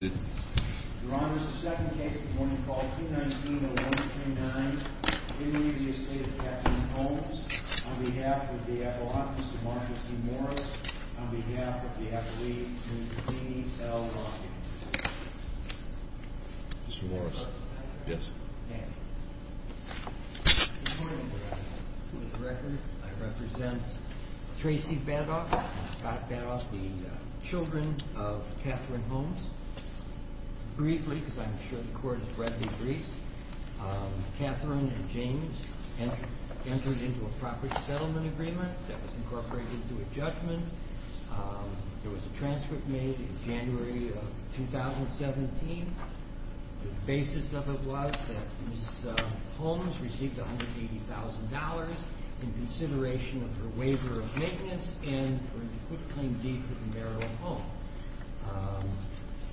on behalf of the F. O. H. Mr. Marcus T. Morris, on behalf of the F. L. E. and C. E. L. Lockett. Mr. Morris. Yes. I represent Tracy Badoff and Scott Badoff, the children of Catherine Holmes. Briefly, because I'm sure the court has read the briefs, Catherine and James entered into a proper settlement agreement that was incorporated into a judgment. There was a transcript made in January of 2017. The basis of it was that Ms. Holmes received $180,000 in consideration of her waiver of maintenance and for the quick, clean deeds of the marital home.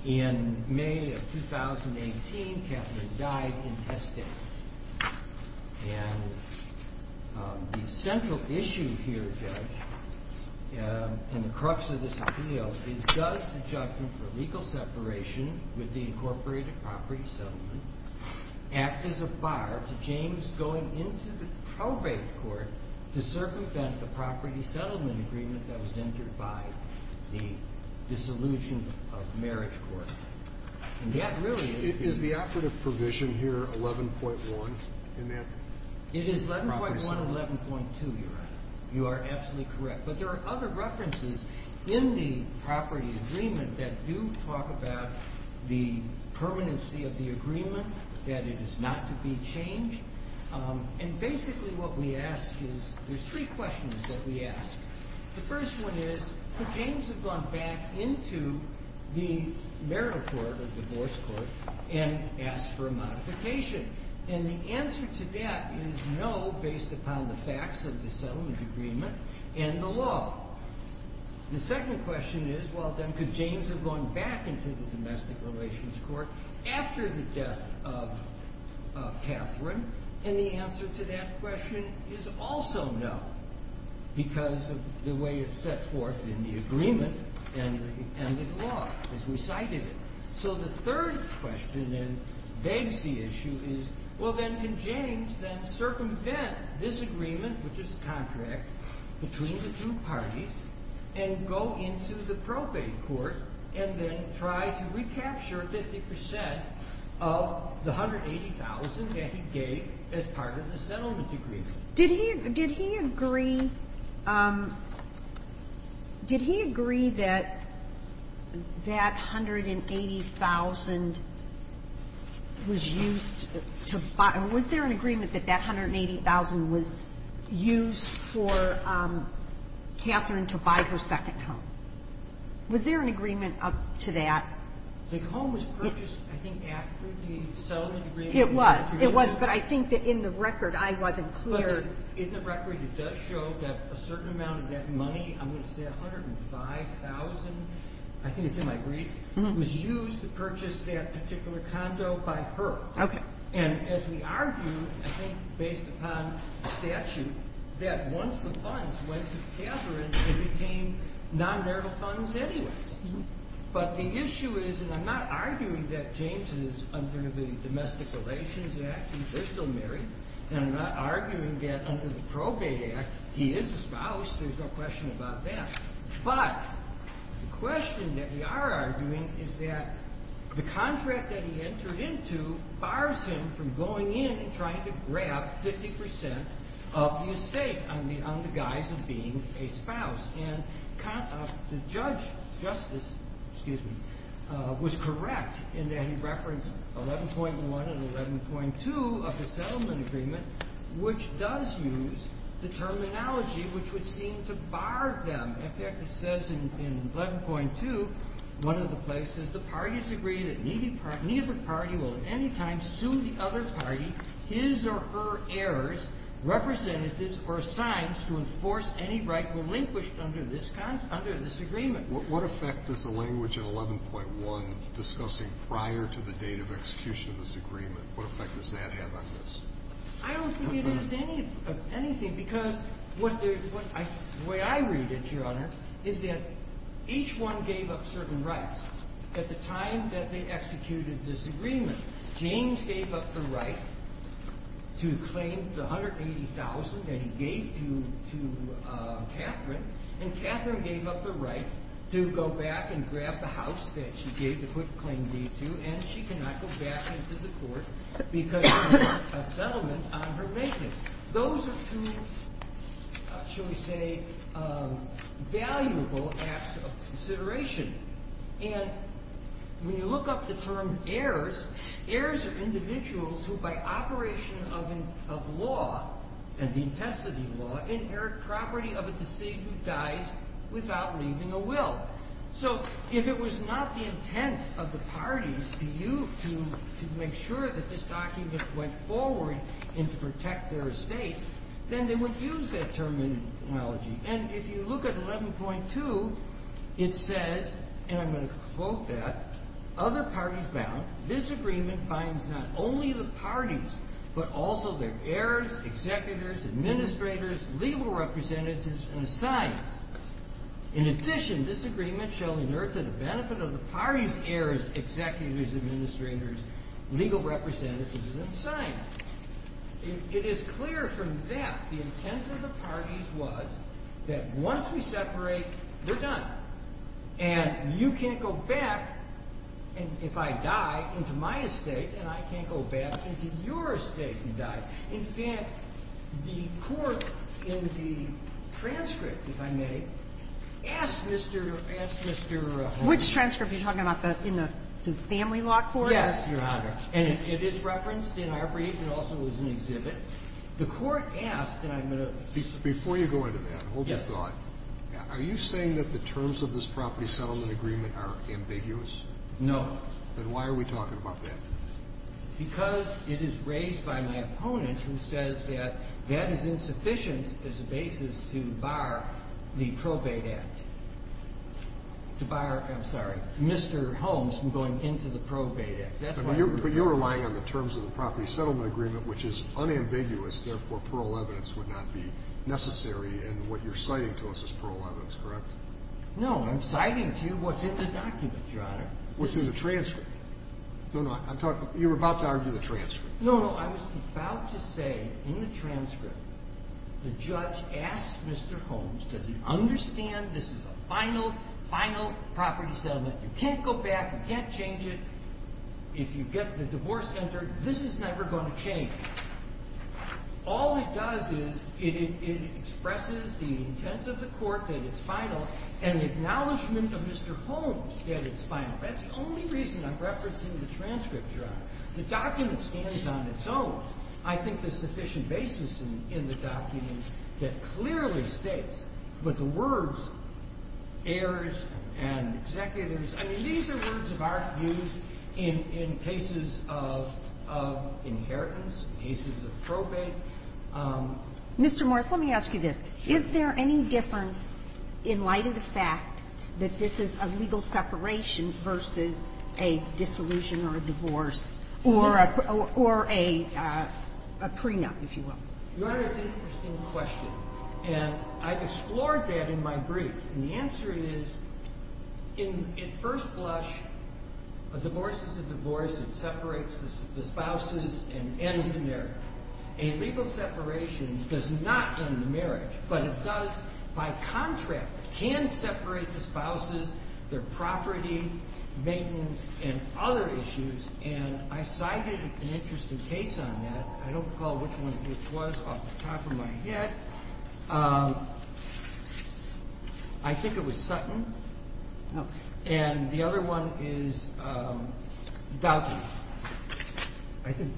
In May of 2018, Catherine died in Hestown. And the central issue here, Judge, and the crux of this appeal, is does the judgment for legal separation with the incorporated property settlement act as a bar to James going into the probate court to circumvent the property settlement agreement that was entered by the deceased? Is the operative provision here 11.1 in that? It is 11.1 and 11.2, Your Honor. You are absolutely correct. But there are other references in the property agreement that do talk about the permanency of the agreement, that it is not to be changed. And basically what we ask is, there's three questions that we ask. The first one is, could James have gone back into the marital court or divorce court and asked for a modification? And the answer to that is no, based upon the facts of the settlement agreement and the law. The second question is, well, then, could James have gone back into the domestic relations court after the death of Catherine? And the answer to that question is also no, because of the way it's set forth in the agreement and the law, as we cited it. So the third question that begs the issue is, well, then, can James then circumvent this agreement, which is a contract between the two parties, and go into the probate court and then try to recapture 50 percent of the $180,000 that he gave as part of the settlement agreement? Did he agree that that $180,000 was used to buy or was there an agreement that that $180,000 was used for Catherine to buy her second home? Was there an agreement up to that? The home was purchased, I think, after the settlement agreement. But I think that in the record, I wasn't clear. But in the record, it does show that a certain amount of that money, I'm going to say $105,000, I think it's in my brief, was used to purchase that particular condo by her. Okay. And as we argued, I think based upon statute, that once the funds went to Catherine, they became non-marital funds anyway. But the issue is, and I'm not arguing that James is under the Domestic Relations Act. They're still married. And I'm not arguing that under the Probate Act, he is a spouse. There's no question about that. But the question that we are arguing is that the contract that he entered into bars him from going in and trying to grab 50% of the estate on the guise of being a spouse. And the judge, Justice, excuse me, was correct in that he referenced 11.1 and 11.2 of the settlement agreement, which does use the terminology which would seem to bar them. In fact, it says in 11.2, one of the places, the parties agree that neither party will at any time sue the other party his or her heirs, representatives, or signs to enforce any right relinquished under this agreement. What effect does the language in 11.1 discussing prior to the date of execution of this agreement, what effect does that have on this? I don't think it is anything. Because the way I read it, Your Honor, is that each one gave up certain rights at the time that they executed this agreement. James gave up the right to claim the $180,000 that he gave to Catherine. And Catherine gave up the right to go back and grab the house that she gave the claim deed to. And she cannot go back into the court because of a settlement on her maintenance. Those are two, shall we say, valuable acts of consideration. And when you look up the term heirs, heirs are individuals who by operation of law, and the intestinal law, inherit property of a deceased who dies without leaving a will. So if it was not the intent of the parties to make sure that this document went forward and to protect their estates, then they would use that terminology. And if you look at 11.2, it says, and I'm going to quote that, other parties bound, this agreement binds not only the parties, but also their heirs, executors, administrators, legal representatives, and signs. In addition, this agreement shall inherit to the benefit of the parties, heirs, executors, administrators, legal representatives, and signs. It is clear from that the intent of the parties was that once we separate, we're done. And you can't go back, and if I die, into my estate, and I can't go back into your estate and die. In fact, the court in the transcript, if I may, asked Mr. Horne. Which transcript? Are you talking about in the Family Law Court? Yes, Your Honor. And it is referenced in our brief. It also was in the exhibit. The court asked, and I'm going to say this. Before you go into that, hold your thought. Yes. Are you saying that the terms of this property settlement agreement are ambiguous? No. Then why are we talking about that? Because it is raised by my opponent, who says that that is insufficient as a basis to bar the probate act. To bar, I'm sorry, Mr. Holmes from going into the probate act. But you're relying on the terms of the property settlement agreement, which is unambiguous. Therefore, plural evidence would not be necessary. And what you're citing to us is plural evidence, correct? No, I'm citing to you what's in the document, Your Honor. What's in the transcript. You were about to argue the transcript. No, no. I was about to say in the transcript the judge asked Mr. Holmes, does he understand this is a final, final property settlement? You can't go back. You can't change it. If you get the divorce entered, this is never going to change. All it does is it expresses the intent of the court that it's final and the acknowledgement of Mr. Holmes that it's final. That's the only reason I'm referencing the transcript, Your Honor. The document stands on its own. I think there's sufficient basis in the document that clearly states, but the words heirs and executives, I mean, these are words of our views in cases of inheritance, cases of probate. Mr. Morris, let me ask you this. Is there any difference in light of the fact that this is a legal separation versus a dissolution or a divorce or a prenup, if you will? Your Honor, it's an interesting question. And I've explored that in my brief. And the answer is, in first blush, a divorce is a divorce. It separates the spouses and ends the marriage. A legal separation does not end the marriage, but it does by contract. It can separate the spouses, their property, maintenance, and other issues. And I cited an interesting case on that. I don't recall which one it was off the top of my head. I think it was Sutton. And the other one is Dowdy.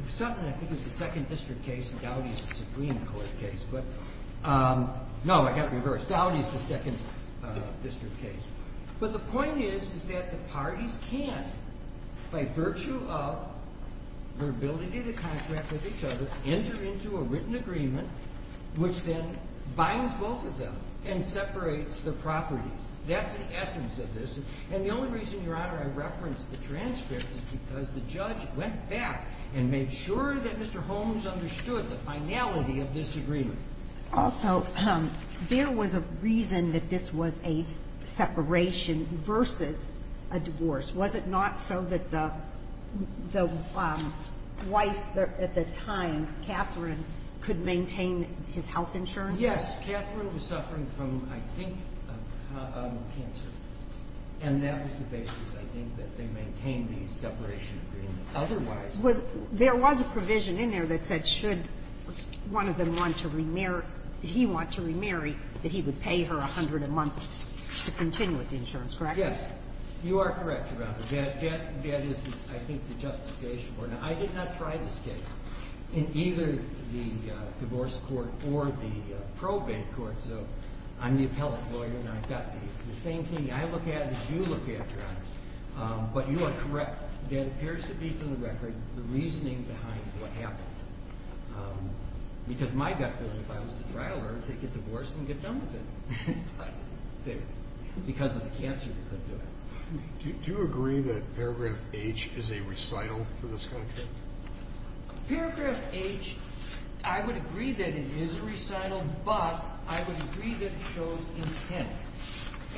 Sutton, I think, is the second district case, and Dowdy is the Supreme Court case. But no, I got it reversed. Dowdy is the second district case. But the point is that the parties can, by virtue of their ability to contract with each other, enter into a written agreement, which then binds both of them and separates the properties. That's the essence of this. And the only reason, Your Honor, I referenced the transcript is because the judge went back and made sure that Mr. Holmes understood the finality of this agreement. Also, there was a reason that this was a separation versus a divorce. Was it not so that the wife at the time, Catherine, could maintain his health insurance? Yes. Catherine was suffering from, I think, cancer. And that was the basis, I think, that they maintained the separation agreement. Otherwise the court wouldn't. There was a provision in there that said should one of them want to remarry or he want to remarry, that he would pay her $100 a month to continue with the insurance. Correct me? Yes. You are correct, Your Honor. That is, I think, the justification. Now, I did not try this case in either the divorce court or the probate court. So I'm the appellate lawyer, and I've got the same thing I look at as you look at, Your Honor. But you are correct. That appears to be, for the record, the reasoning behind what happened. Because my gut feeling is if I was the trial lawyer, I would say get divorced and get done with it. But because of the cancer, they couldn't do it. Do you agree that paragraph H is a recital for this country? Paragraph H, I would agree that it is a recital, but I would agree that it shows intent.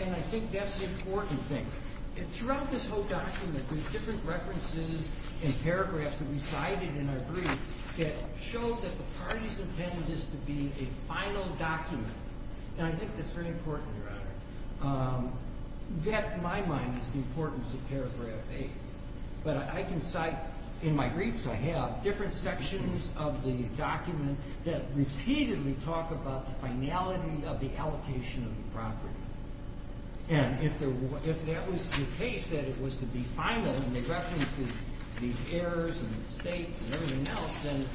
And I think that's the important thing. Throughout this whole document, there's different references and paragraphs that we cited in our brief that show that the parties intended this to be a final document. And I think that's very important, Your Honor. That, in my mind, is the importance of paragraph H. But I can cite in my briefs I have different sections of the document that repeatedly talk about the finality of the allocation of the property. And if that was the case, that it was to be final, and they referenced the heirs and the states and everything else, then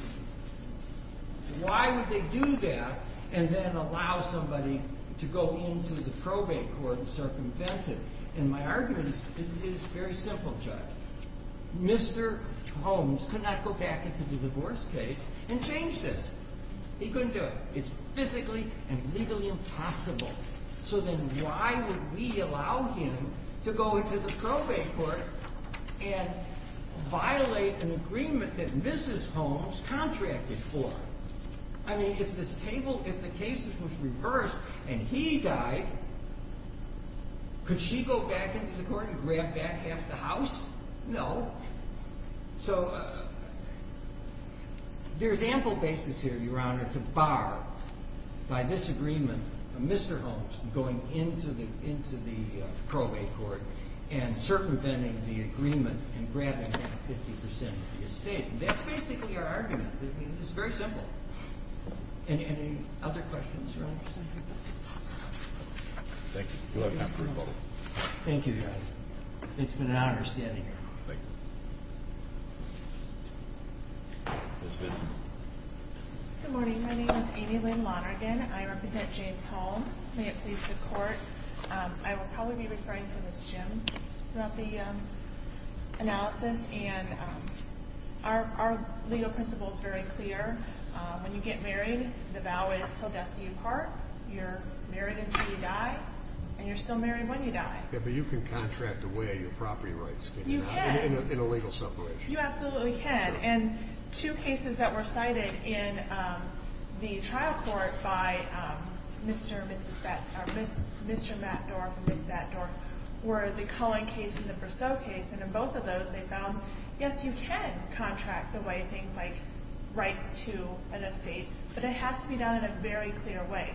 why would they do that and then allow somebody to go into the probate court and circumvent it? And my argument is very simple, Judge. Mr. Holmes could not go back into the divorce case and change this. He couldn't do it. It's physically and legally impossible. So then why would we allow him to go into the probate court and violate an agreement that Mrs. Holmes contracted for? I mean, if this table, if the case was reversed and he died, could she go back into the court and grab back half the house? No. So there's ample basis here, Your Honor, to bar by this agreement Mr. Holmes going into the probate court and circumventing the agreement and grabbing back 50% of the estate. And that's basically your argument. It's very simple. Any other questions, Your Honor? Thank you. You have time for a vote. Thank you, Your Honor. It's been an honor standing here. Good morning. My name is Amy Lynn Lonergan. I represent James Holmes. May it please the Court. I will probably be referring to Ms. Jim throughout the analysis. And our legal principle is very clear. When you get married, the vow is till death do you part. You're married until you die, and you're still married when you die. Yeah, but you can contract away your property rights, can you not? You can. In a legal separation. You absolutely can. And two cases that were cited in the trial court by Mr. and Mrs. Batts, Mr. Matt Dorff and Ms. Batts Dorff, were the Cullen case and the Briseau case. And in both of those, they found, yes, you can contract away things like rights to an estate, but it has to be done in a very clear way.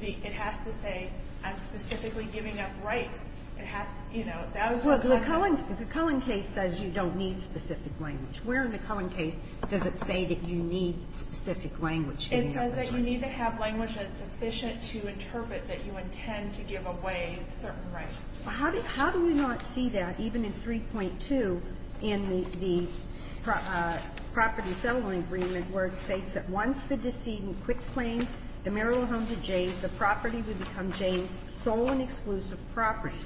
It has to say, I'm specifically giving up rights. It has to, you know, that is what the case is. Well, the Cullen case says you don't need specific language. Where in the Cullen case does it say that you need specific language? It says that you need to have language that is sufficient to interpret that you intend to give away certain rights. How do we not see that even in 3.2 in the property settlement agreement where it states that once the decedent quick claim the marital home to James, the property would become James' sole and exclusive property.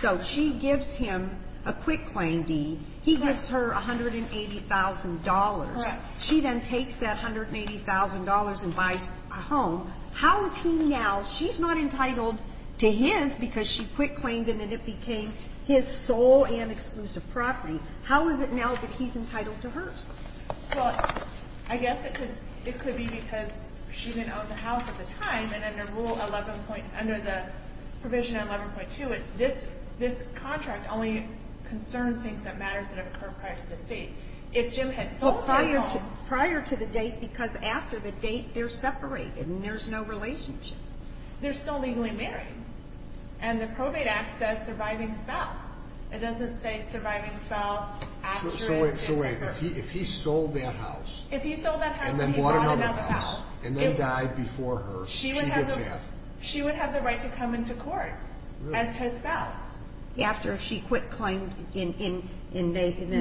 So she gives him a quick claim deed. He gives her $180,000. She then takes that $180,000 and buys a home. How is he now, she's not entitled to his because she quick claimed him and it became his sole and exclusive property. How is it now that he's entitled to hers? Well, I guess it could be because she didn't own the house at the time and under Rule 11.2, this contract only concerns things that matters that have occurred prior to the deed. If Jim had sold his home. Prior to the date because after the date they're separated and there's no relationship. They're still legally married. And the probate act says surviving spouse. It doesn't say surviving spouse after they're separated. So wait, if he sold that house and then bought another house and then died before her, she gets half. She would have the right to come into court as his spouse. After she quick claimed in the contract.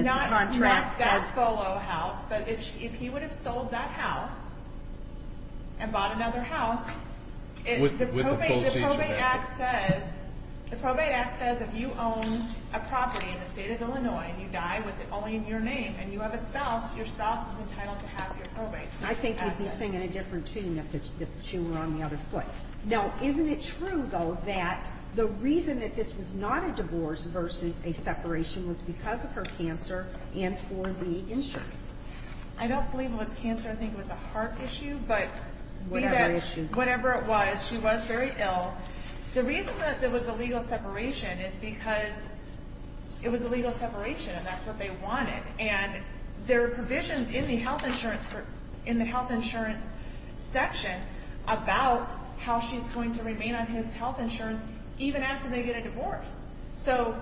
Not that bolo house. But if he would have sold that house and bought another house. With the full season. The probate act says if you own a property in the state of Illinois and you die with only your name and you have a spouse, your spouse is entitled to half your probate. I think he'd be singing a different tune if the tune were on the other foot. Now, isn't it true, though, that the reason that this was not a divorce versus a separation was because of her cancer and for the insurance? I don't believe it was cancer. I think it was a heart issue, but whatever it was, she was very ill. The reason that there was a legal separation is because it was a legal separation and that's what they wanted. And there are provisions in the health insurance section about how she's going to remain on his health insurance even after they get a divorce. So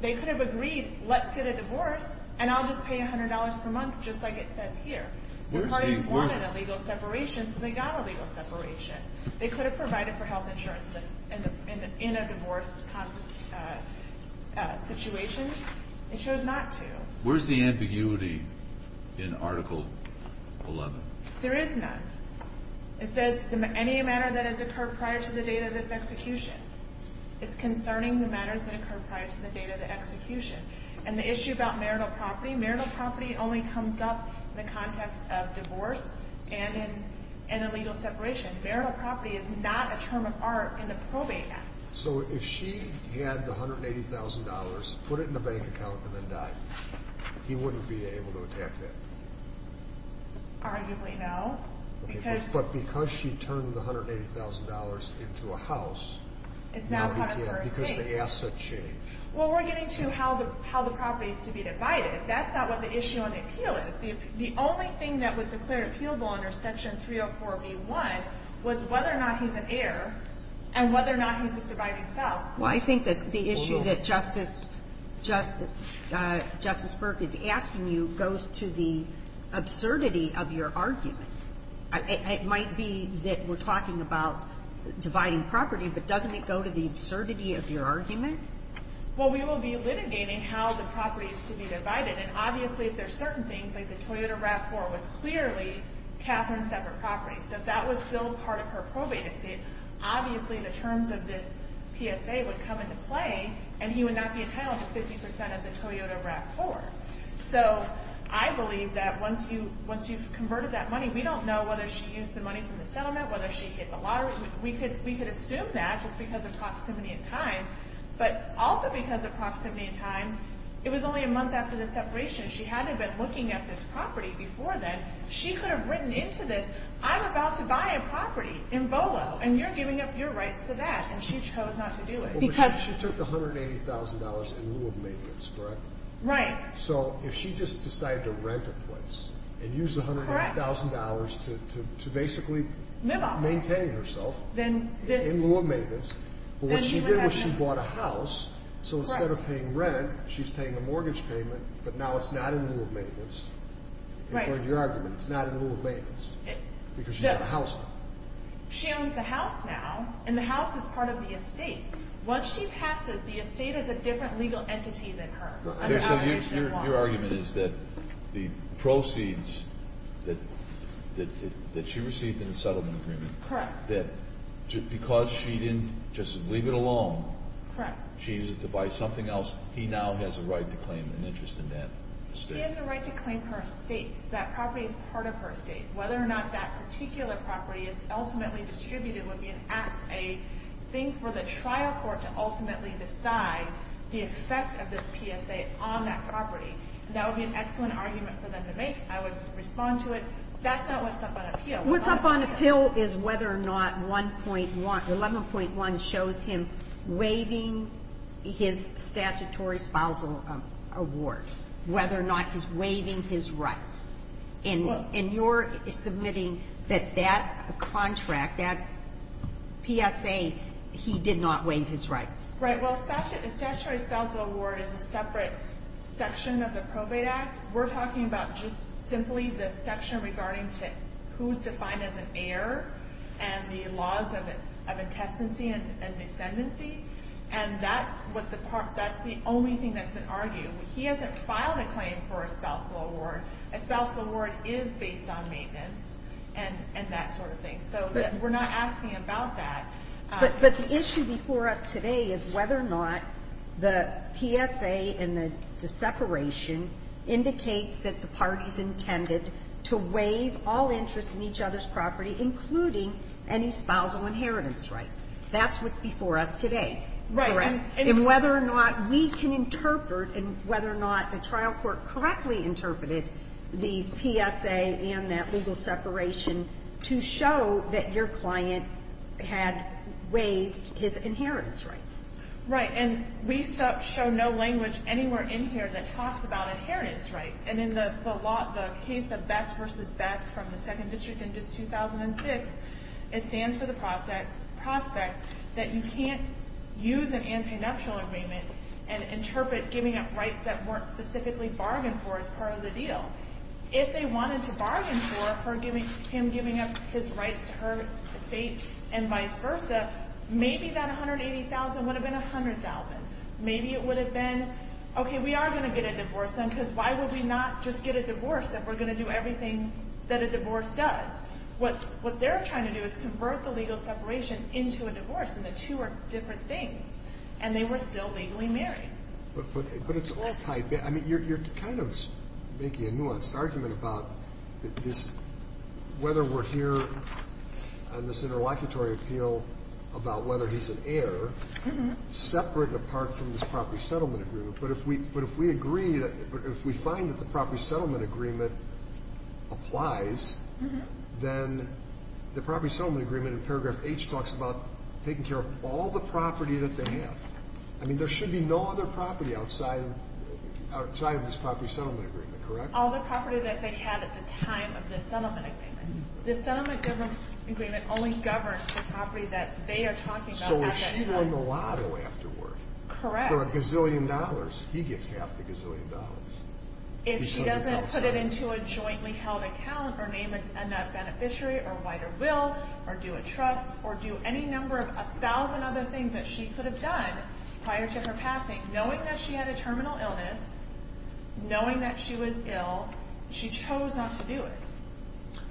they could have agreed, let's get a divorce and I'll just pay $100 per month just like it says here. The parties wanted a legal separation, so they got a legal separation. They could have provided for health insurance in a divorce situation. They chose not to. Where's the ambiguity in Article 11? There is none. It says any manner that has occurred prior to the date of this execution. It's concerning the manners that occurred prior to the date of the execution. And the issue about marital property, marital property only comes up in the context of divorce and a legal separation. Marital property is not a term of art in the probate act. So if she had the $180,000, put it in the bank account, and then died, he wouldn't be able to attack that? Arguably no. But because she turned the $180,000 into a house, now he can't because the asset changed. Well, we're getting to how the property is to be divided. That's not what the issue on the appeal is. The only thing that was declared appealable under Section 304b1 was whether or not he's an heir and whether or not he's a surviving spouse. Well, I think that the issue that Justice Burke is asking you goes to the absurdity of your argument. It might be that we're talking about dividing property, but doesn't it go to the absurdity of your argument? Well, we will be litigating how the property is to be divided. And obviously, if there are certain things, like the Toyota RAV4 was clearly Katherine's separate property. So if that was still part of her probate estate, obviously the terms of this PSA would come into play, and he would not be entitled to 50% of the Toyota RAV4. So I believe that once you've converted that money, we don't know whether she used the money from the settlement, whether she hit the lottery. We could assume that just because of proximity and time. But also because of proximity and time, it was only a month after the separation. She hadn't been looking at this property before then. She could have written into this, I'm about to buy a property in Volo, and you're giving up your rights to that. And she chose not to do it. She took the $180,000 in lieu of maintenance, correct? Right. So if she just decided to rent a place and used the $180,000 to basically maintain herself, in lieu of maintenance, but what she did was she bought a house, so instead of paying rent, she's paying a mortgage payment, but now it's not in lieu of maintenance. Right. According to your argument, it's not in lieu of maintenance. Because she's got a house now. She owns the house now, and the house is part of the estate. Once she passes, the estate is a different legal entity than her. Your argument is that the proceeds that she received in the settlement agreement, that because she didn't just leave it alone, she used it to buy something else, he now has a right to claim an interest in that estate. She has a right to claim her estate. That property is part of her estate. Whether or not that particular property is ultimately distributed would be a thing for the trial court to ultimately decide the effect of this PSA on that property. That would be an excellent argument for them to make. I would respond to it. That's not what's up on appeal. What's up on appeal is whether or not 11.1 shows him waiving his statutory spousal award, whether or not he's waiving his rights. And you're submitting that that contract, that PSA, he did not waive his rights. Right. Well, a statutory spousal award is a separate section of the Probate Act. We're talking about just simply the section regarding who's defined as an heir and the laws of intestancy and descendancy. And that's the only thing that's been argued. He hasn't filed a claim for a spousal award. A spousal award is based on maintenance and that sort of thing. So we're not asking about that. But the issue before us today is whether or not the PSA and the separation indicates that the parties intended to waive all interest in each other's property, including any spousal inheritance rights. That's what's before us today. Right. And whether or not we can interpret and whether or not the trial court correctly interpreted the PSA and that legal separation to show that your client had waived his inheritance rights. Right. And we show no language anywhere in here that talks about inheritance rights. And in the case of BESS v. BESS from the Second District in 2006, it stands for the prospect that you can't use an anti-nuptial agreement and interpret giving up rights that weren't specifically bargained for as part of the deal. If they wanted to bargain for him giving up his rights to her estate and vice versa, maybe that $180,000 would have been $100,000. Maybe it would have been, okay, we are going to get a divorce then because why would we not just get a divorce if we're going to do everything that a divorce does? What they're trying to do is convert the legal separation into a divorce, and the two are different things, and they were still legally married. But it's all tied back. I mean, you're kind of making a nuanced argument about whether we're here on this interlocutory appeal about whether he's an heir, separate and apart from this property settlement agreement. But if we agree, if we find that the property settlement agreement applies, then the property settlement agreement in paragraph H talks about taking care of all the property that they have. I mean, there should be no other property outside of this property settlement agreement, correct? All the property that they had at the time of the settlement agreement. The settlement agreement only governs the property that they are talking about. So we're shoring the lotto afterward. Correct. So if we're talking about a gazillion dollars, he gets half the gazillion dollars. If she doesn't put it into a jointly held account or name a beneficiary or wider will or do a trust or do any number of a thousand other things that she could have done prior to her passing, knowing that she had a terminal illness, knowing that she was ill, she chose not to do it.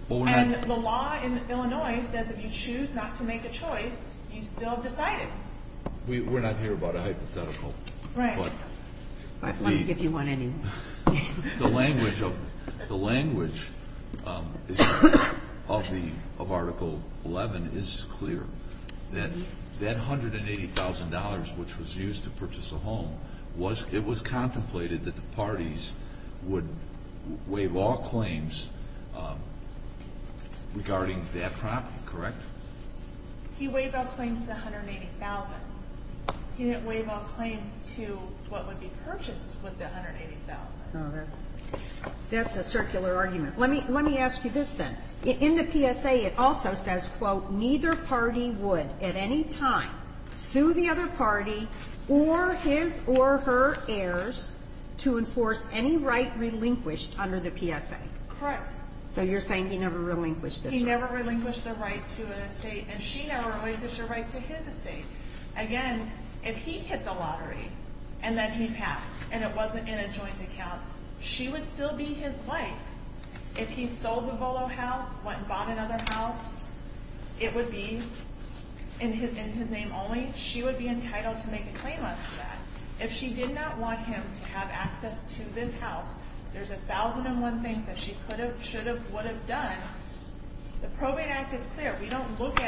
And the law in Illinois says if you choose not to make a choice, you still have decided. We're not here about a hypothetical. Right. Let me give you one anyway. The language of Article 11 is clear, that $180,000 which was used to purchase a home, it was contemplated that the parties would waive all claims regarding that property, correct? He waived all claims to the $180,000. He didn't waive all claims to what would be purchased with the $180,000. Oh, that's a circular argument. Let me ask you this, then. In the PSA, it also says, quote, neither party would at any time sue the other party or his or her heirs to enforce any right relinquished under the PSA. Correct. So you're saying he never relinquished this right. He never relinquished the right to an estate, and she never relinquished the right to his estate. Again, if he hit the lottery and then he passed and it wasn't in a joint account, she would still be his wife. If he sold the Volo house, went and bought another house, it would be in his name only. She would be entitled to make a claim on that. If she did not want him to have access to this house, there's a thousand and one things that she could have, should have, would have done. The Probate Act is clear. We don't look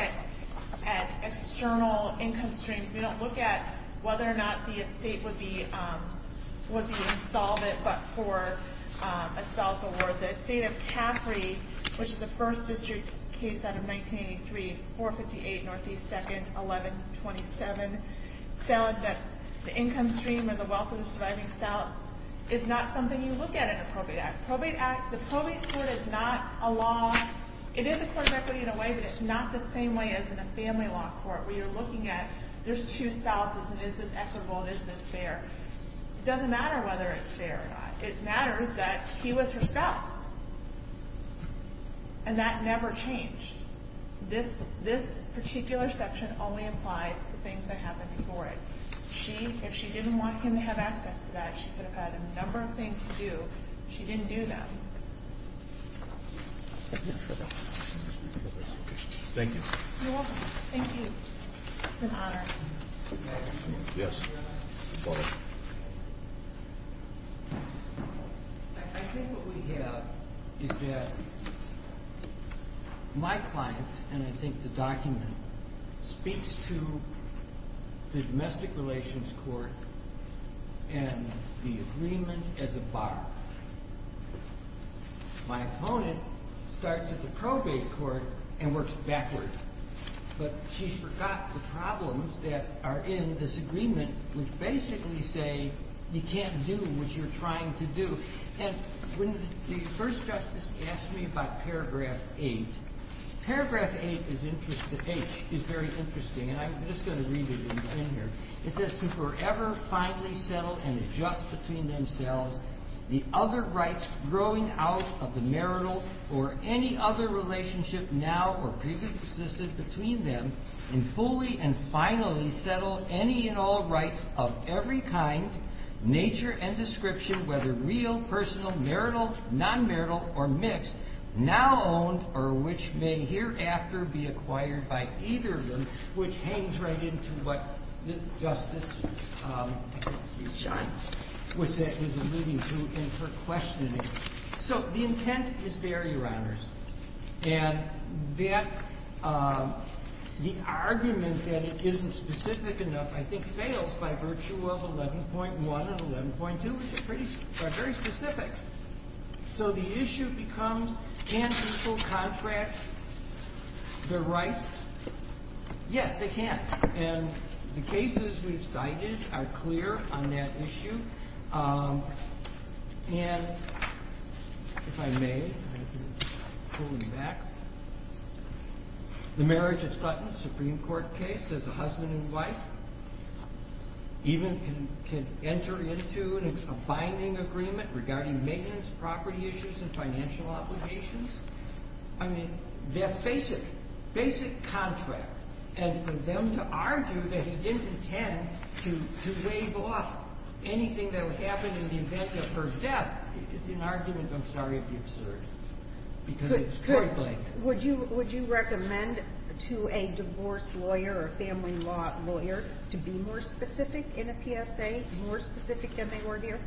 at external income streams. We don't look at whether or not the estate would be insolvent but for a spouse award. The estate of Caffrey, which is the first district case out of 1983, 458 Northeast 2nd, 1127, found that the income stream or the wealth of the surviving spouse is not something you look at in a probate act. The probate court is not a law. It is a court of equity in a way, but it's not the same way as in a family law court where you're looking at there's two spouses and is this equitable, is this fair. It doesn't matter whether it's fair or not. It matters that he was her spouse, and that never changed. This particular section only applies to things that happened before it. If she didn't want him to have access to that, she could have had a number of things to do. She didn't do that. Thank you. You're welcome. Thank you. It's an honor. Yes. Go ahead. I think what we have is that my clients, and I think the document, speaks to the domestic relations court and the agreement as a bar. My opponent starts at the probate court and works backward, but she forgot the problems that are in this agreement, which basically say you can't do what you're trying to do. And when the first justice asked me about paragraph 8, paragraph 8 is very interesting, and I'm just going to read it in here. It says to forever finally settle and adjust between themselves the other rights growing out of the marital or any other relationship now or previously existed between them, and fully and finally settle any and all rights of every kind, nature, and description, whether real, personal, marital, non-marital, or mixed, now owned or which may hereafter be acquired by either of them, which hangs right into what the justice was alluding to in her questioning. So the intent is there, Your Honors, and that the argument that it isn't specific enough, I think, fails by virtue of 11.1 and 11.2, which are very specific. So the issue becomes can people contract their rights? Yes, they can. And the cases we've cited are clear on that issue. And if I may, I have to pull you back, the marriage of Sutton, Supreme Court case, as a husband and wife, even can enter into a binding agreement regarding maintenance, property issues, and financial obligations. I mean, that's basic, basic contract. And for them to argue that he didn't intend to waive off anything that would happen in the event of her death is an argument, I'm sorry, of the absurd, because it's critically. Would you recommend to a divorce lawyer or a family law lawyer to be more specific in a PSA, more specific than they were here?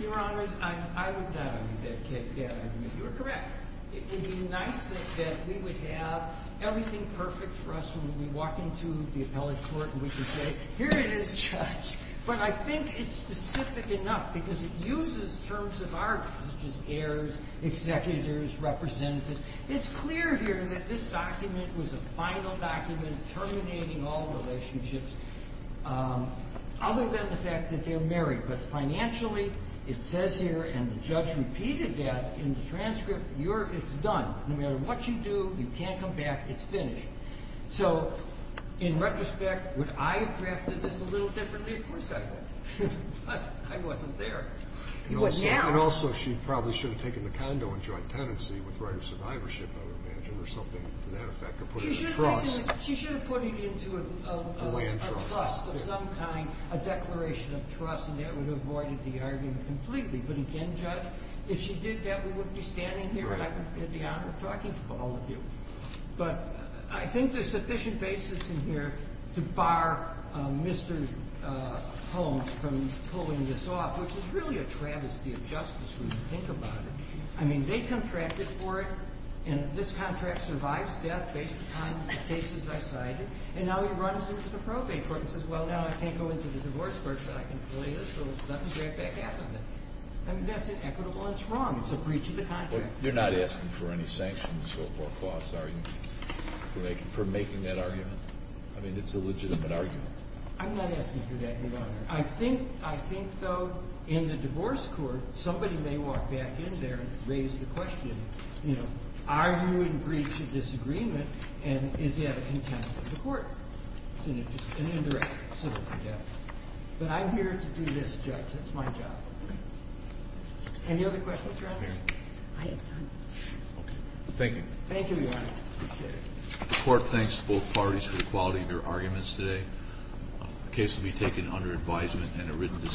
Your Honors, I would not agree with that. You're correct. It would be nice that we would have everything perfect for us when we walk into the appellate court and we can say, here it is, Judge, but I think it's specific enough because it uses terms of argument, such as heirs, executors, representatives. It's clear here that this document was a final document terminating all relationships, other than the fact that they're married. But financially, it says here, and the judge repeated that in the transcript, it's done. No matter what you do, you can't come back. It's finished. So in retrospect, would I have crafted this a little differently? Of course I would. I wasn't there. And also, she probably should have taken the condo in joint tenancy with right of survivorship, I would imagine, or something to that effect, or put it in trust. She should have put it into a trust of some kind, a declaration of trust, and that would have avoided the argument completely. But again, Judge, if she did that, we wouldn't be standing here, and I would have had the honor of talking to all of you. But I think there's sufficient basis in here to bar Mr. Holmes from pulling this off, which is really a travesty of justice when you think about it. I mean, they contracted for it, and this contract survives death based on the cases I cited, and now he runs into the probate court and says, well, now I can't go into the divorce court, but I can fill this, so let me grab back half of it. I mean, that's inequitable and it's wrong. It's a breach of the contract. You're not asking for any sanctions or costs, are you, for making that argument? I mean, it's a legitimate argument. I'm not asking for that, Your Honor. I think, though, in the divorce court, somebody may walk back in there and raise the question, you know, are you in breach of this agreement, and is he out of contempt of the court? It's an indirect civil project. But I'm here to do this, Judge. That's my job. Any other questions, Your Honor? I have none. Thank you. Thank you, Your Honor. I appreciate it. The Court thanks both parties for the quality of their arguments today. The case will be taken under advisement and a written decision.